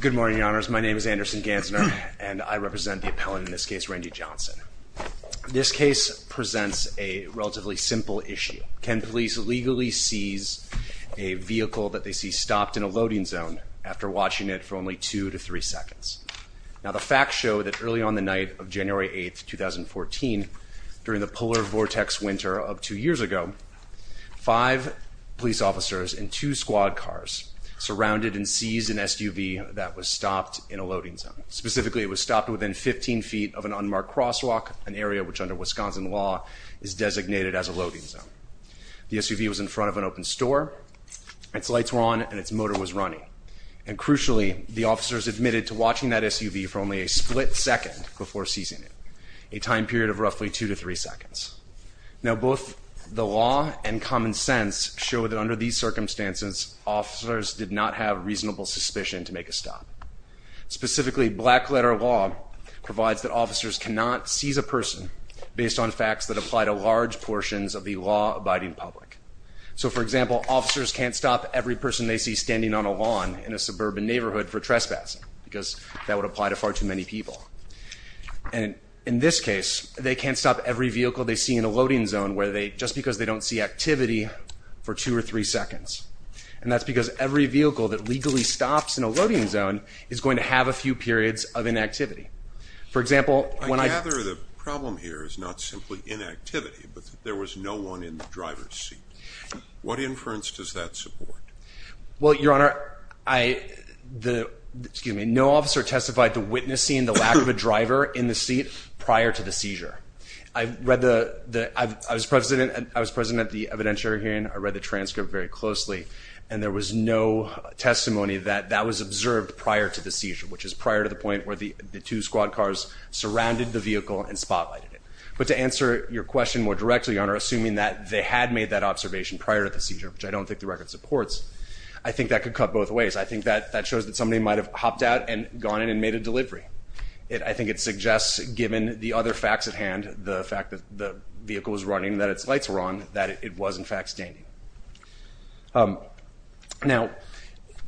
Good morning, your honors. My name is Anderson Gansner, and I represent the appellant in this case, Randy Johnson. This case presents a relatively simple issue. Can police legally seize a vehicle that they see stopped in a loading zone after watching it for only two to three seconds? Now the facts show that early on the night of January 8th, 2014, during the polar vortex winter of two years ago, five police officers in two squad cars surrounded and seized an SUV that was stopped in a loading zone. Specifically, it was stopped within 15 feet of an unmarked crosswalk, an area which under Wisconsin law is designated as a loading zone. The SUV was in front of an open store, its lights were on, and its motor was running, and crucially, the officers admitted to watching that SUV for only a split second before seizing it, a time period of roughly two to three seconds. Now both the law and common sense show that under these circumstances, officers did not have reasonable suspicion to make a stop. Specifically, black letter law provides that officers cannot seize a person based on facts that apply to large portions of the law-abiding public. So for example, officers can't stop every person they see standing on a lawn in a suburban neighborhood for trespassing because that would apply to far too many people. And in this case, they can't stop every vehicle they see in a loading zone just because they don't see activity for two or three seconds. And that's because every vehicle that legally stops in a loading zone is going to have a few periods of inactivity. For example, when I... I gather the problem here is not simply inactivity, but there was no one in the driver's seat. What inference does that support? Well, Your Honor, I, the, excuse me, no officer testified to witnessing the lack of a driver in the seat prior to the seizure. I read the, I was present at the evidentiary hearing, I read the transcript very closely, and there was no testimony that that was observed prior to the seizure, which is prior to the point where the the two squad cars surrounded the vehicle and spotlighted it. But to answer your question more directly, Your Honor, assuming that they had made that observation prior to the seizure, which I don't think the record supports, I think that could cut both ways. I think that that shows that somebody might have hopped out and gone in and made a delivery. It, I think it suggests given the other facts at hand, the fact that the vehicle was running, that its lights were on, that it was in fact standing. Now,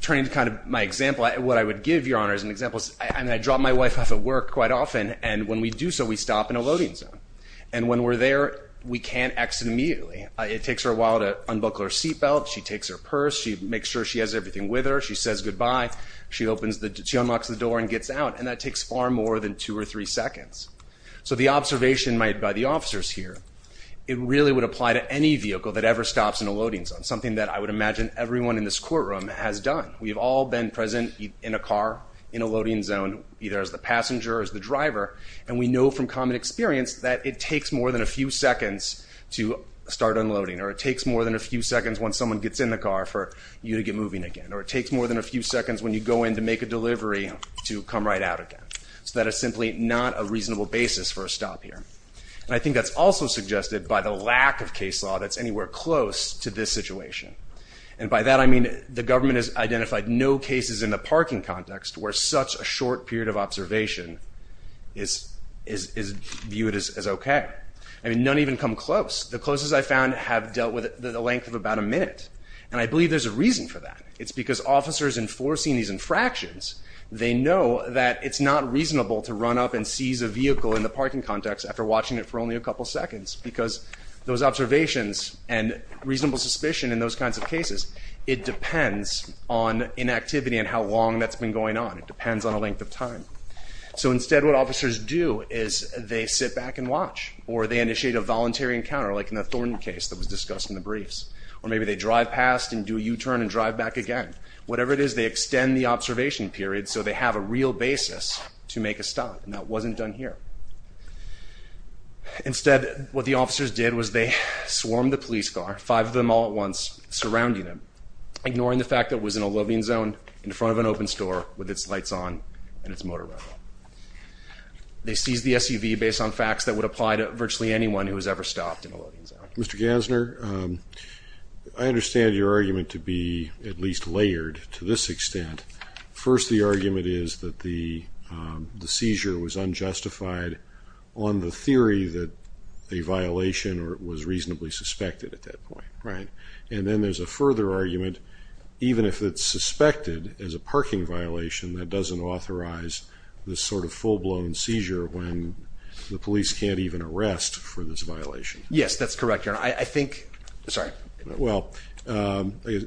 turning to kind of my example, what I would give, Your Honor, as an example is, I mean, I drop my wife off at work quite often, and when we do so, we stop in a loading zone. And when we're there, we can't exit immediately. It takes her a while to unbuckle her seat belt. She takes her purse. She makes sure she has everything with her. She says goodbye. She opens the, she unlocks the door and gets out, and that takes far more than two or three seconds. So the observation made by the officers here, it really would apply to any vehicle that ever stops in a loading zone, something that I would imagine everyone in this courtroom has done. We've all been present in a car, in a loading zone, either as the passenger or as the driver, and we know from common experience that it takes more than a few seconds to start unloading, or it takes more than a few seconds once someone gets in the car for you to get moving again, or it takes more than a few seconds when you go in to make a delivery to come right out again. So that is simply not a reasonable basis for a stop here. And I think that's also suggested by the lack of case law that's anywhere close to this situation. And by that, I mean the government has identified no cases in the parking context where such a short period of observation is viewed as okay. I mean, none even come close. The closest I found have dealt with it the length of about a minute, and I believe there's a reason for that. It's because officers enforcing these infractions, they know that it's not reasonable to run up and seize a vehicle in the parking context after watching it for only a couple seconds, because those observations and reasonable suspicion in those kinds of cases, it depends on inactivity and how long that's been going on. It depends on a length of time. So instead, what officers do is they sit back and watch, or they initiate a voluntary encounter like in the Thornton case that was discussed in the briefs, or maybe they drive past and do a U-turn and drive back again. Whatever it is, they extend the observation period so they have a real basis to make a stop, and that wasn't done here. Instead, what the officers did was they swarmed the police car, five of them all at once, surrounding them, ignoring the fact that it was in a loading zone in front of an open store with its lights on and its motor running. They seized the SUV based on facts that would apply to virtually anyone who has ever stopped in a loading zone. Mr. Gassner, I understand your argument to be at least layered to this extent. First, the argument is that the seizure was unjustified on the theory that a violation was reasonably suspected at that point, right? And then there's a further argument, even if it's suspected as a parking violation, that doesn't authorize this sort of full-blown seizure when the police can't even arrest for this violation. Yes, that's correct, Your Honor. I think, sorry. Well, the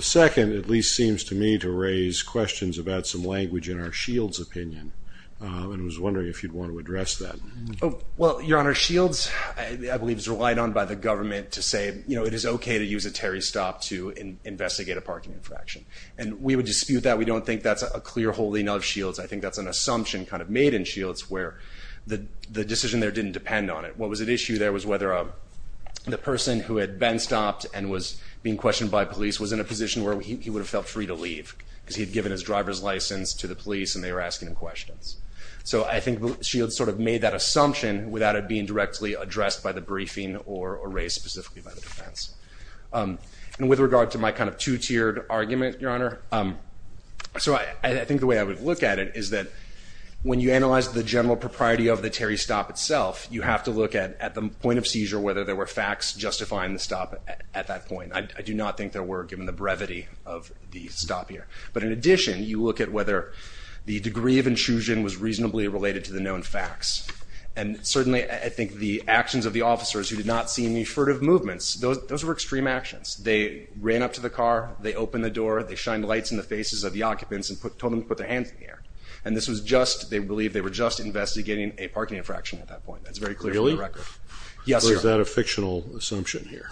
second at least seems to me to raise questions about some language in our Shields' opinion, and I was wondering if you'd want to address that. Well, Your Honor, Shields, I believe, is relied on by the government to say, you know, it is okay to use a Terry stop to investigate a parking infraction, and we would dispute that. We don't think that's a clear holding of Shields. I think that's an assumption kind of made in Shields where the decision there didn't depend on it. What was at issue there was whether the person who had been stopped and was being questioned by police was in a position where he would have felt free to leave, because he had given his driver's license to the police and they were asking him questions. So I think Shields sort of made that assumption without it being directly addressed by the briefing or raised specifically by the defense. And with regard to my kind of two-tiered argument, Your Honor, so I think the way I would look at it is that when you analyze the general propriety of the Terry stop itself, you have to look at the point of seizure, whether there were facts justifying the stop at that point. I do not think there were, given the brevity of the stop here. But in addition, you look at whether the degree of intrusion was reasonably related to the known facts. And certainly, I think the actions of the officers who did not see any furtive movements, those were extreme actions. They ran up to the car, they opened the door, they shined lights in the faces of the occupants and told them to put their hands in the air. And this was just, they believe they were just investigating a parking infraction at that point. That's very clear from the record. Really? Yes, Your Honor. Or is that a fictional assumption here?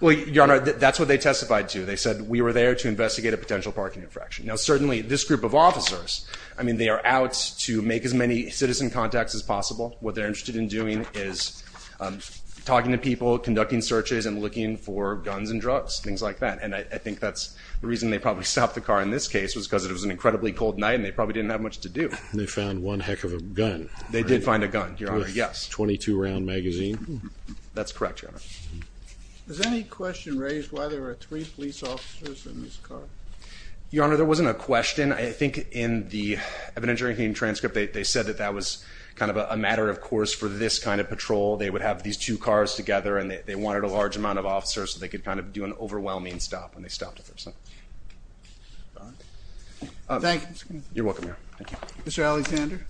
Well, Your Honor, that's what they testified to. They said, we were there to investigate a potential parking infraction. Now certainly, this group of officers, I mean, they are out to make as many citizen contacts as possible. What they're interested in doing is talking to people, conducting searches and looking for guns and drugs, things like that. And I think that's the reason they probably stopped the car in this case, was because it was an incredibly cold night and they probably didn't have much to do. And they found one heck of a gun. They did find a gun, Your Honor, yes. A 22-round magazine. That's correct, Your Honor. Was any question raised why there were three police officers in this car? Your Honor, there wasn't a question. I think in the evidence-taking transcript, they said that that was kind of a matter of course for this kind of patrol. They would have these two cars together and they wanted a large amount of officers so they could kind of do an overwhelming stop when they stopped. Thank you. You're welcome, Your Honor. Thank you. Mr. Alexander?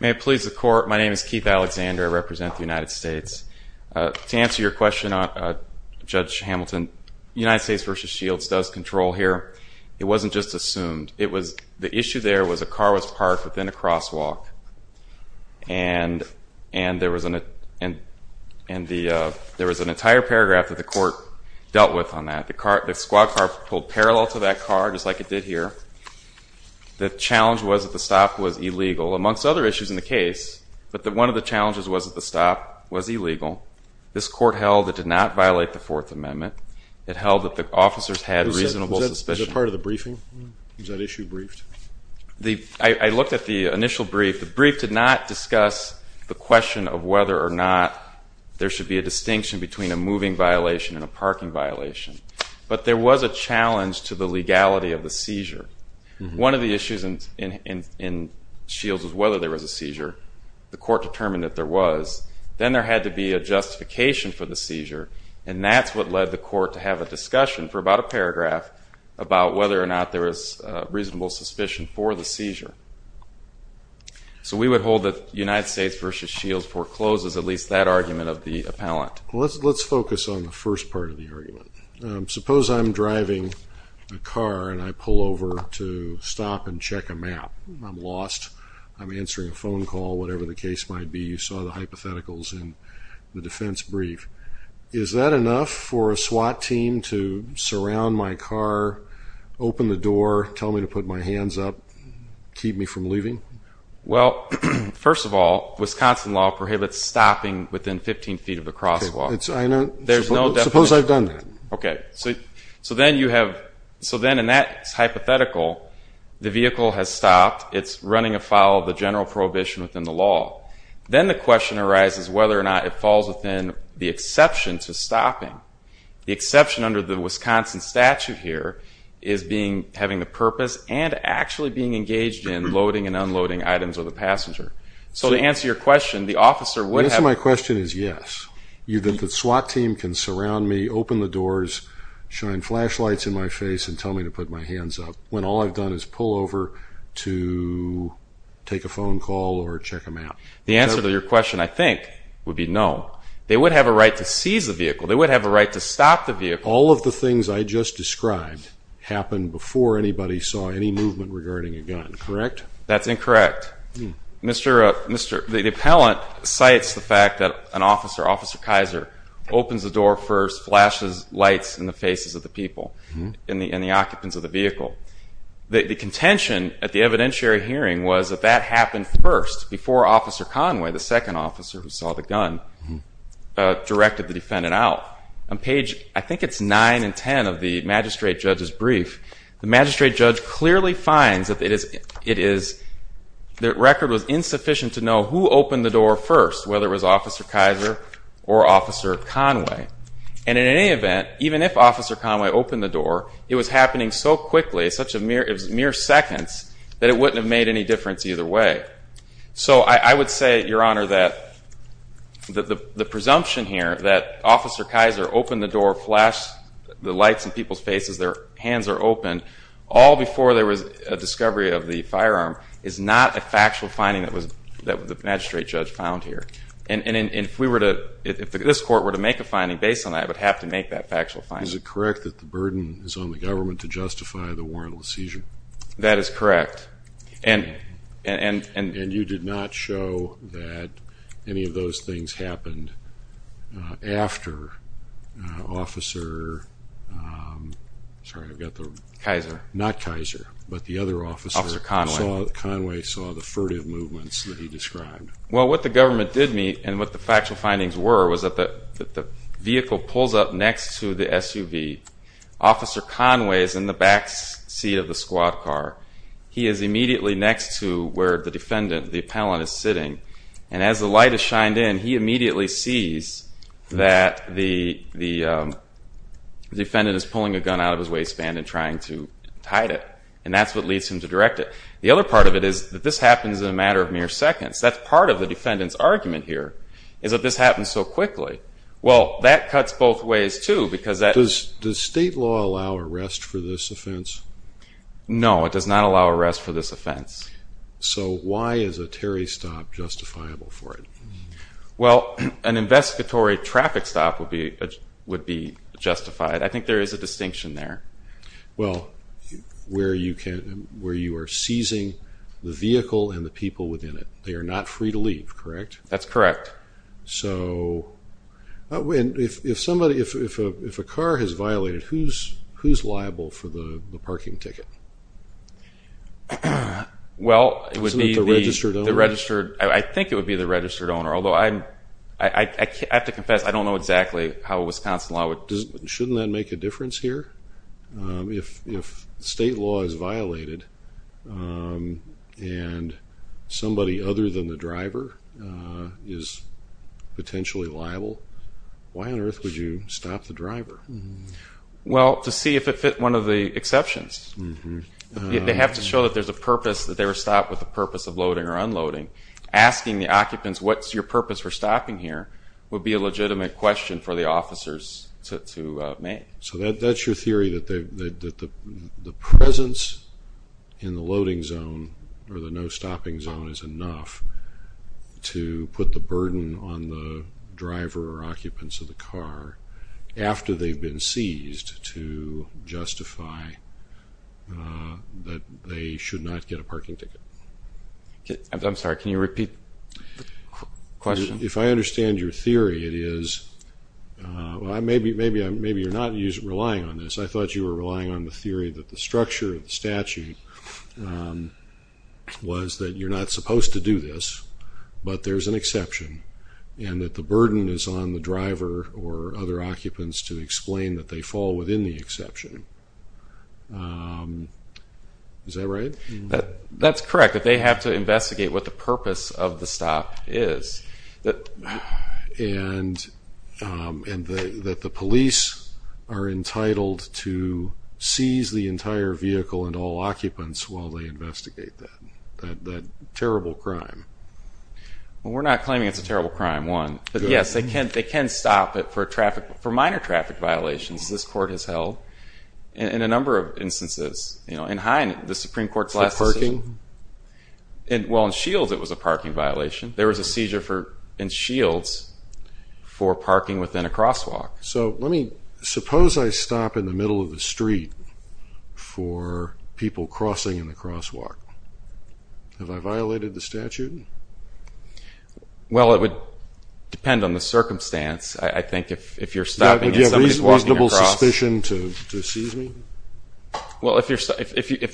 May it please the Court, my name is Keith Alexander. I represent the United States. To answer your question, Judge Hamilton, United States v. Shields does control here. It wasn't just assumed. The issue there was a car was parked within a crosswalk and there was an entire paragraph that the court dealt with on that. The squad car pulled parallel to that car, just like it did here. The challenge was that the stop was illegal, amongst other issues in the case. But one of the challenges was that the stop was illegal. This court held it did not violate the Fourth Amendment. It held that the officers had reasonable suspicion. Was that part of the briefing? Was that issue briefed? I looked at the initial brief. The brief did not discuss the question of whether or not there should be a distinction between a moving violation and a parking violation. But there was a challenge to the legality of the seizure. One of the issues in Shields was whether there was a seizure. The court determined that there was. Then there had to be a justification for the seizure, and that's what led the court to have a discussion for about a paragraph about whether or not there was reasonable suspicion for the seizure. So we would hold that United States v. Shields forecloses at least that argument of the appellant. Let's focus on the first part of the argument. Suppose I'm driving a car and I pull over to stop and check a map. I'm lost. I'm answering a phone call, whatever the case might be. You saw the hypotheticals in the defense brief. Is that enough for a SWAT team to surround my car, open the door, tell me to put my hands up, keep me from leaving? Well, first of all, Wisconsin law prohibits stopping within 15 feet of the crosswalk. Suppose I've done that. Okay. So then in that hypothetical, the vehicle has stopped. It's running afoul of the general prohibition within the law. Then the question arises whether or not it falls within the exception to stopping. The exception under the Wisconsin statute here is having the purpose and actually being engaged in loading and unloading items with the passenger. So to answer your question, the officer would have to do that. My question is yes. The SWAT team can surround me, open the doors, shine flashlights in my face, and tell me to put my hands up when all I've done is pull over to take a phone call or check a map. The answer to your question, I think, would be no. They would have a right to seize the vehicle. They would have a right to stop the vehicle. All of the things I just described happened before anybody saw any movement regarding a gun, correct? That's incorrect. The appellant cites the fact that an officer, Officer Kaiser, opens the door first, flashes lights in the faces of the people, in the occupants of the vehicle. The contention at the evidentiary hearing was that that happened first, before Officer Conway, the second officer who saw the gun, directed the defendant out. On page, I think it's 9 and 10 of the magistrate judge's brief, the magistrate judge clearly finds that the record was insufficient to know who opened the door first, whether it was Officer Kaiser or Officer Conway. And in any event, even if Officer Conway opened the door, it was happening so quickly, it was mere seconds, that it wouldn't have made any difference either way. So I would say, Your Honor, that the presumption here that Officer Kaiser opened the door, flashed the lights in people's faces, their hands are open, all before there was a discovery of the firearm, is not a factual finding that the magistrate judge found here. And if this court were to make a finding based on that, it would have to make that factual finding. Is it correct that the burden is on the government to justify the warrantless seizure? That is correct. And you did not show that any of those things happened after Officer... Sorry, I've got the... Kaiser. Not Kaiser, but the other officer. Officer Conway. Conway saw the furtive movements that he described. Well, what the government did meet, and what the factual findings were, was that the vehicle pulls up next to the SUV. Officer Conway is in the back seat of the squad car. He is immediately next to where the defendant, the appellant, is sitting. And as the light is shined in, he immediately sees that the defendant is pulling a gun out of his waistband and trying to hide it. And that's what leads him to direct it. The other part of it is that this happens in a matter of mere seconds. That's part of the defendant's argument here, is that this happens so quickly. Well, that cuts both ways, too, because that... Does state law allow arrest for this offense? No, it does not allow arrest for this offense. So why is a Terry stop justifiable for it? Well, an investigatory traffic stop would be justified. I think there is a distinction there. Well, where you are seizing the vehicle and the people within it. They are not free to leave, correct? That's correct. So if a car has violated, who is liable for the parking ticket? Well, it would be the registered owner. I think it would be the registered owner, although I have to confess, I don't know exactly how a Wisconsin law would... Shouldn't that make a difference here? If state law is violated and somebody other than the driver is potentially liable, why on earth would you stop the driver? Well, to see if it fit one of the exceptions. They have to show that there's a purpose, that they were stopped with a purpose of loading or unloading. Asking the occupants, what's your purpose for stopping here, would be a legitimate question for the officers to make. So that's your theory, that the presence in the loading zone or the no-stopping zone is enough to put the burden on the driver or occupants of the car after they've been seized to justify that they should not get a parking ticket. I'm sorry, can you repeat the question? If I understand your theory, it is... Maybe you're not relying on this. I thought you were relying on the theory that the structure of the statute was that you're not supposed to do this, but there's an exception, and that the burden is on the driver or other occupants to explain that they fall within the exception. Is that right? That's correct, that they have to investigate what the purpose of the stop is. And that the police are entitled to seize the entire vehicle and all occupants while they investigate that terrible crime. Well, we're not claiming it's a terrible crime, one. But yes, they can stop it for minor traffic violations this court has held in a number of instances. In Hine, the Supreme Court's last decision... For parking? Well, in Shields it was a parking violation. There was a seizure in Shields for parking within a crosswalk. So suppose I stop in the middle of the street for people crossing in the crosswalk. Have I violated the statute? Well, it would depend on the circumstance. I think if you're stopping and somebody's walking across... Would you have reasonable suspicion to seize me? Well, if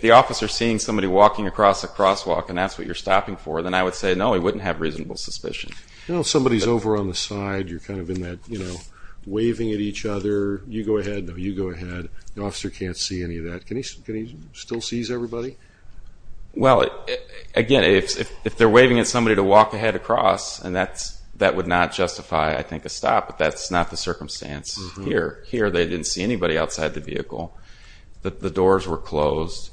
the officer's seeing somebody walking across a crosswalk and that's what you're stopping for, then I would say, no, he wouldn't have reasonable suspicion. You know, if somebody's over on the side, you're kind of in that, you know, waving at each other. You go ahead, no, you go ahead. The officer can't see any of that. Can he still seize everybody? Well, again, if they're waving at somebody to walk ahead across, and that would not justify, I think, a stop. But that's not the circumstance here. Here they didn't see anybody outside the vehicle. The doors were closed.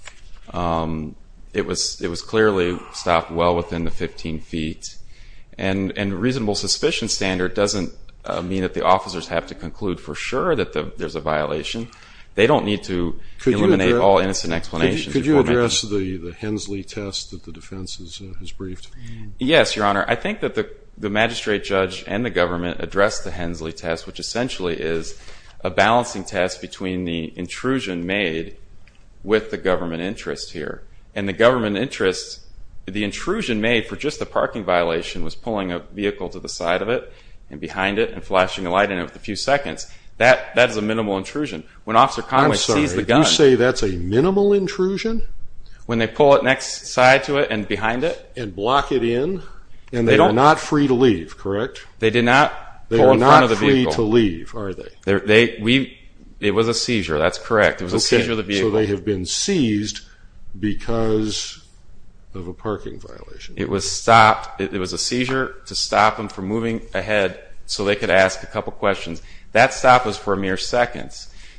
It was clearly stopped well within the 15 feet. And a reasonable suspicion standard doesn't mean that the officers have to conclude for sure that there's a violation. They don't need to eliminate all innocent explanations. Could you address the Hensley test that the defense has briefed? Yes, Your Honor. I think that the magistrate judge and the government addressed the Hensley test, which essentially is a balancing test between the intrusion made with the government interest here. And the government interest, the intrusion made for just the parking violation was pulling a vehicle to the side of it and behind it and flashing a light in it for a few seconds. That is a minimal intrusion. When Officer Conway sees the gun... I'm sorry, you say that's a minimal intrusion? When they pull it next side to it and behind it. And block it in. And they are not free to leave, correct? They did not pull in front of the vehicle. They are not free to leave, are they? It was a seizure, that's correct. It was a seizure of the vehicle. So they have been seized because of a parking violation. It was stopped. It was a seizure to stop them from moving ahead so they could ask a couple questions. That stop was for a mere second.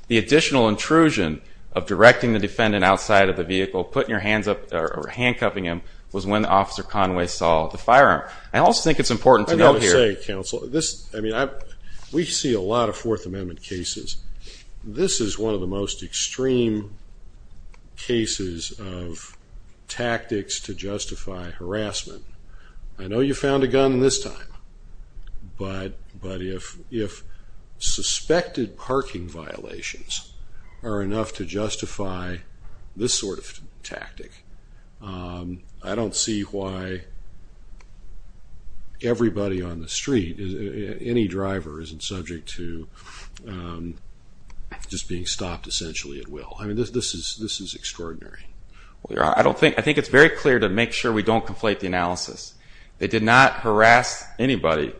The additional intrusion of directing the defendant outside of the vehicle, putting your hands up, or handcuffing him was when Officer Conway saw the firearm. I also think it's important to note here... We see a lot of Fourth Amendment cases. This is one of the most extreme cases of tactics to justify harassment. I know you found a gun this time. But if suspected parking violations are enough to justify this sort of tactic, I don't see why everybody on the street, any driver isn't subject to just being stopped, essentially at will. I mean, this is extraordinary. I think it's very clear to make sure we don't conflate the analysis. They did not harass anybody.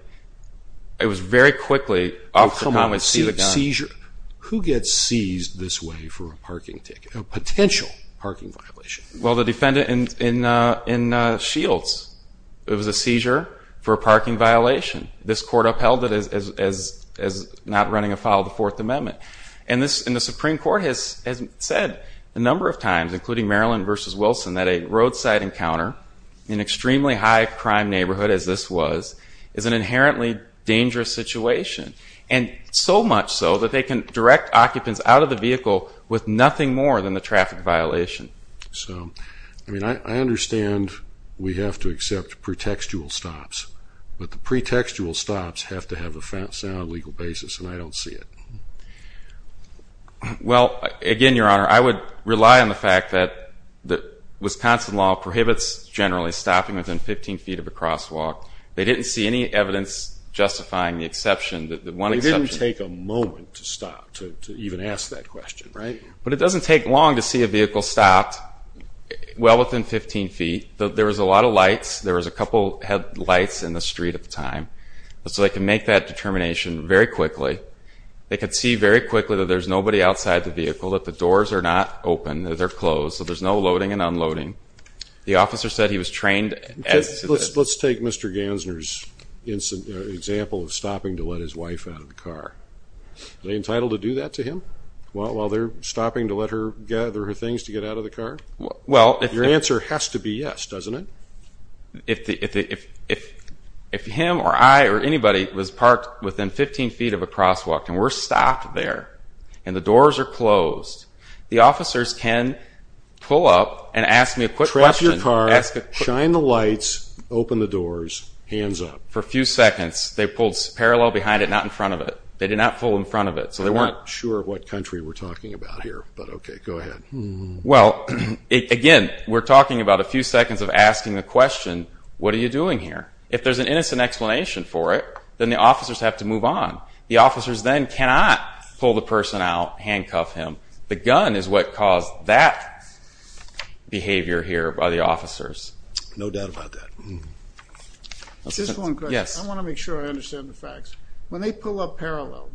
It was very quickly Officer Conway sees a gun. Who gets seized this way for a parking ticket, a potential parking violation? Well, the defendant in Shields. It was a seizure for a parking violation. This court upheld it as not running afoul of the Fourth Amendment. And the Supreme Court has said a number of times, including Maryland v. Wilson, that a roadside encounter in an extremely high-crime neighborhood as this was is an inherently dangerous situation. And so much so that they can direct occupants out of the vehicle with nothing more than the traffic violation. So, I mean, I understand we have to accept pretextual stops, but the pretextual stops have to have a sound legal basis, and I don't see it. Well, again, Your Honor, I would rely on the fact that Wisconsin law prohibits generally stopping within 15 feet of a crosswalk. They didn't see any evidence justifying the exception. It didn't take a moment to stop, to even ask that question, right? But it doesn't take long to see a vehicle stopped well within 15 feet. There was a lot of lights. There was a couple headlights in the street at the time. So they can make that determination very quickly. They could see very quickly that there's nobody outside the vehicle, that the doors are not open, that they're closed, so there's no loading and unloading. The officer said he was trained... Let's take Mr. Gansner's example of stopping to let his wife out of the car. Are they entitled to do that to him while they're stopping to let her gather her things to get out of the car? Your answer has to be yes, doesn't it? If him or I or anybody was parked within 15 feet of a crosswalk and we're stopped there and the doors are closed, the officers can pull up and ask me a quick question. Trap your car, shine the lights, open the doors, hands up. For a few seconds. They pulled parallel behind it, not in front of it. They did not pull in front of it, so they weren't... I'm not sure what country we're talking about here, but okay, go ahead. Well, again, we're talking about a few seconds of asking the question, what are you doing here? If there's an innocent explanation for it, then the officers have to move on. The officers then cannot pull the person out, handcuff him. The gun is what caused that behavior here by the officers. No doubt about that. Just one question. I want to make sure I understand the facts. When they pull up parallel,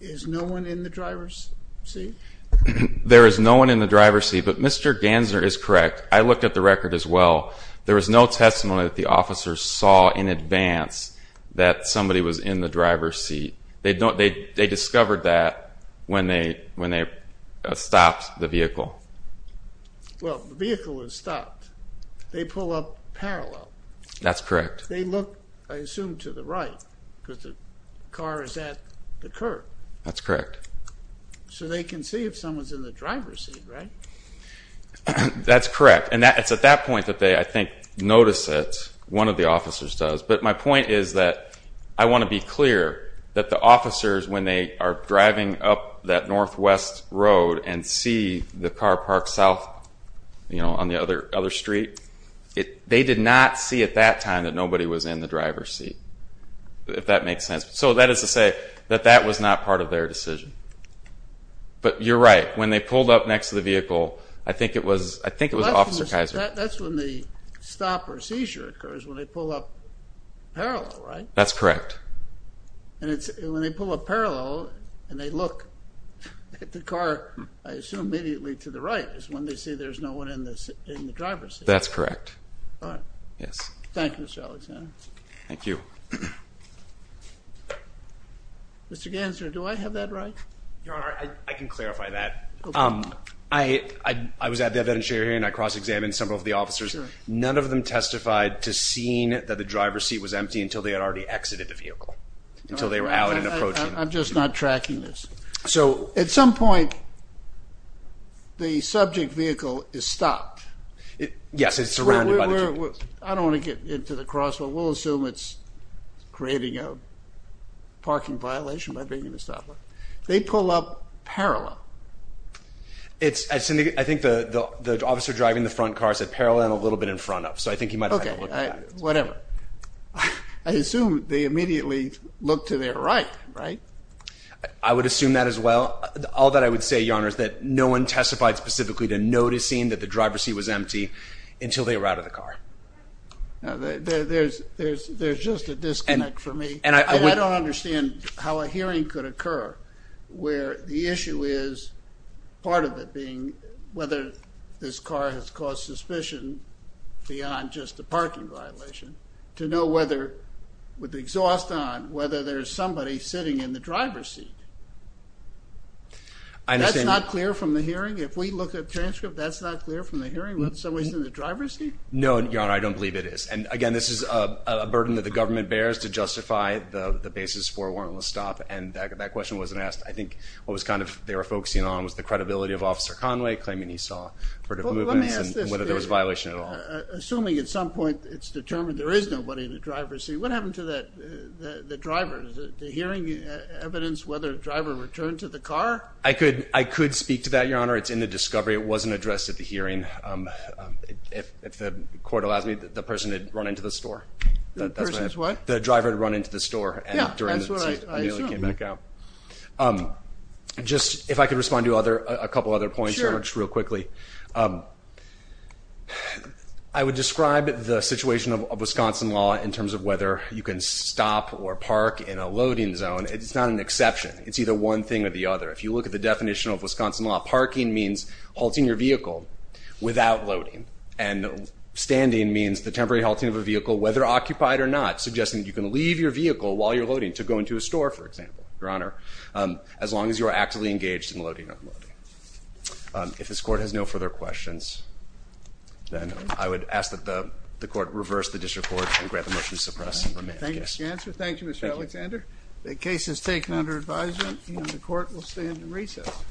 is no one in the driver's seat? There is no one in the driver's seat, but Mr. Gansner is correct. I looked at the record as well. There was no testimony that the officers saw in advance that somebody was in the driver's seat. They discovered that when they stopped the vehicle. Well, the vehicle was stopped. They pull up parallel. That's correct. They look, I assume, to the right, because the car is at the curb. That's correct. So they can see if someone's in the driver's seat, right? That's correct. And it's at that point that they, I think, notice it. One of the officers does. But my point is that I want to be clear that the officers, when they are driving up that northwest road and see the car parked south on the other street, they did not see at that time that nobody was in the driver's seat, if that makes sense. So that is to say that that was not part of their decision. But you're right. When they pulled up next to the vehicle, I think it was Officer Kaiser. That's when the stop or seizure occurs, when they pull up parallel, right? That's correct. When they pull up parallel and they look at the car, I assume immediately to the right, is when they see there's no one in the driver's seat. That's correct. All right. Yes. Thank you, Mr. Alexander. Thank you. Mr. Ganser, do I have that right? Your Honor, I can clarify that. I was at the event and I cross-examined several of the officers. None of them testified to seeing that the driver's seat was empty until they had already exited the vehicle, until they were out and approaching. I'm just not tracking this. At some point, the subject vehicle is stopped. Yes, it's surrounded by the vehicle. I don't want to get into the crosswalk. We'll assume it's creating a parking violation by being in a stoplight. They pull up parallel. I think the officer driving the front car said parallel and a little bit in front of. So I think he might have had to look at that. Okay, whatever. I assume they immediately look to their right, right? I would assume that as well. All that I would say, Your Honor, is that no one testified specifically to noticing that the driver's seat was empty until they were out of the car. There's just a disconnect for me. I don't understand how a hearing could occur where the issue is, part of it being whether this car has caused suspicion beyond just a parking violation, to know whether with the exhaust on, whether there's somebody sitting in the driver's seat. That's not clear from the hearing? If we look at the transcript, that's not clear from the hearing? That someone's in the driver's seat? No, Your Honor, I don't believe it is. Again, this is a burden that the government bears to justify the basis for a warrantless stop, and that question wasn't asked. I think what they were focusing on was the credibility of Officer Conway, claiming he saw movement and whether there was a violation at all. Assuming at some point it's determined there is nobody in the driver's seat, what happened to the driver? Is the hearing evidence whether the driver returned to the car? I could speak to that, Your Honor. It's in the discovery. It wasn't addressed at the hearing. If the court allows me, the person had run into the store. The person's what? The driver had run into the store. Yeah, that's what I assumed. And he came back out. If I could respond to a couple other points real quickly. Sure. I would describe the situation of Wisconsin law in terms of whether you can stop or park in a loading zone. It's not an exception. It's either one thing or the other. If you look at the definition of Wisconsin law, parking means halting your vehicle without loading, and standing means the temporary halting of a vehicle, whether occupied or not, suggesting you can leave your vehicle while you're loading to go into a store, for example, Your Honor, as long as you're actively engaged in loading and unloading. If this court has no further questions, then I would ask that the court reverse the district court and grant the motion to suppress. Thank you, Mr. Alexander. The case is taken under advisement, and the court will stand in recess.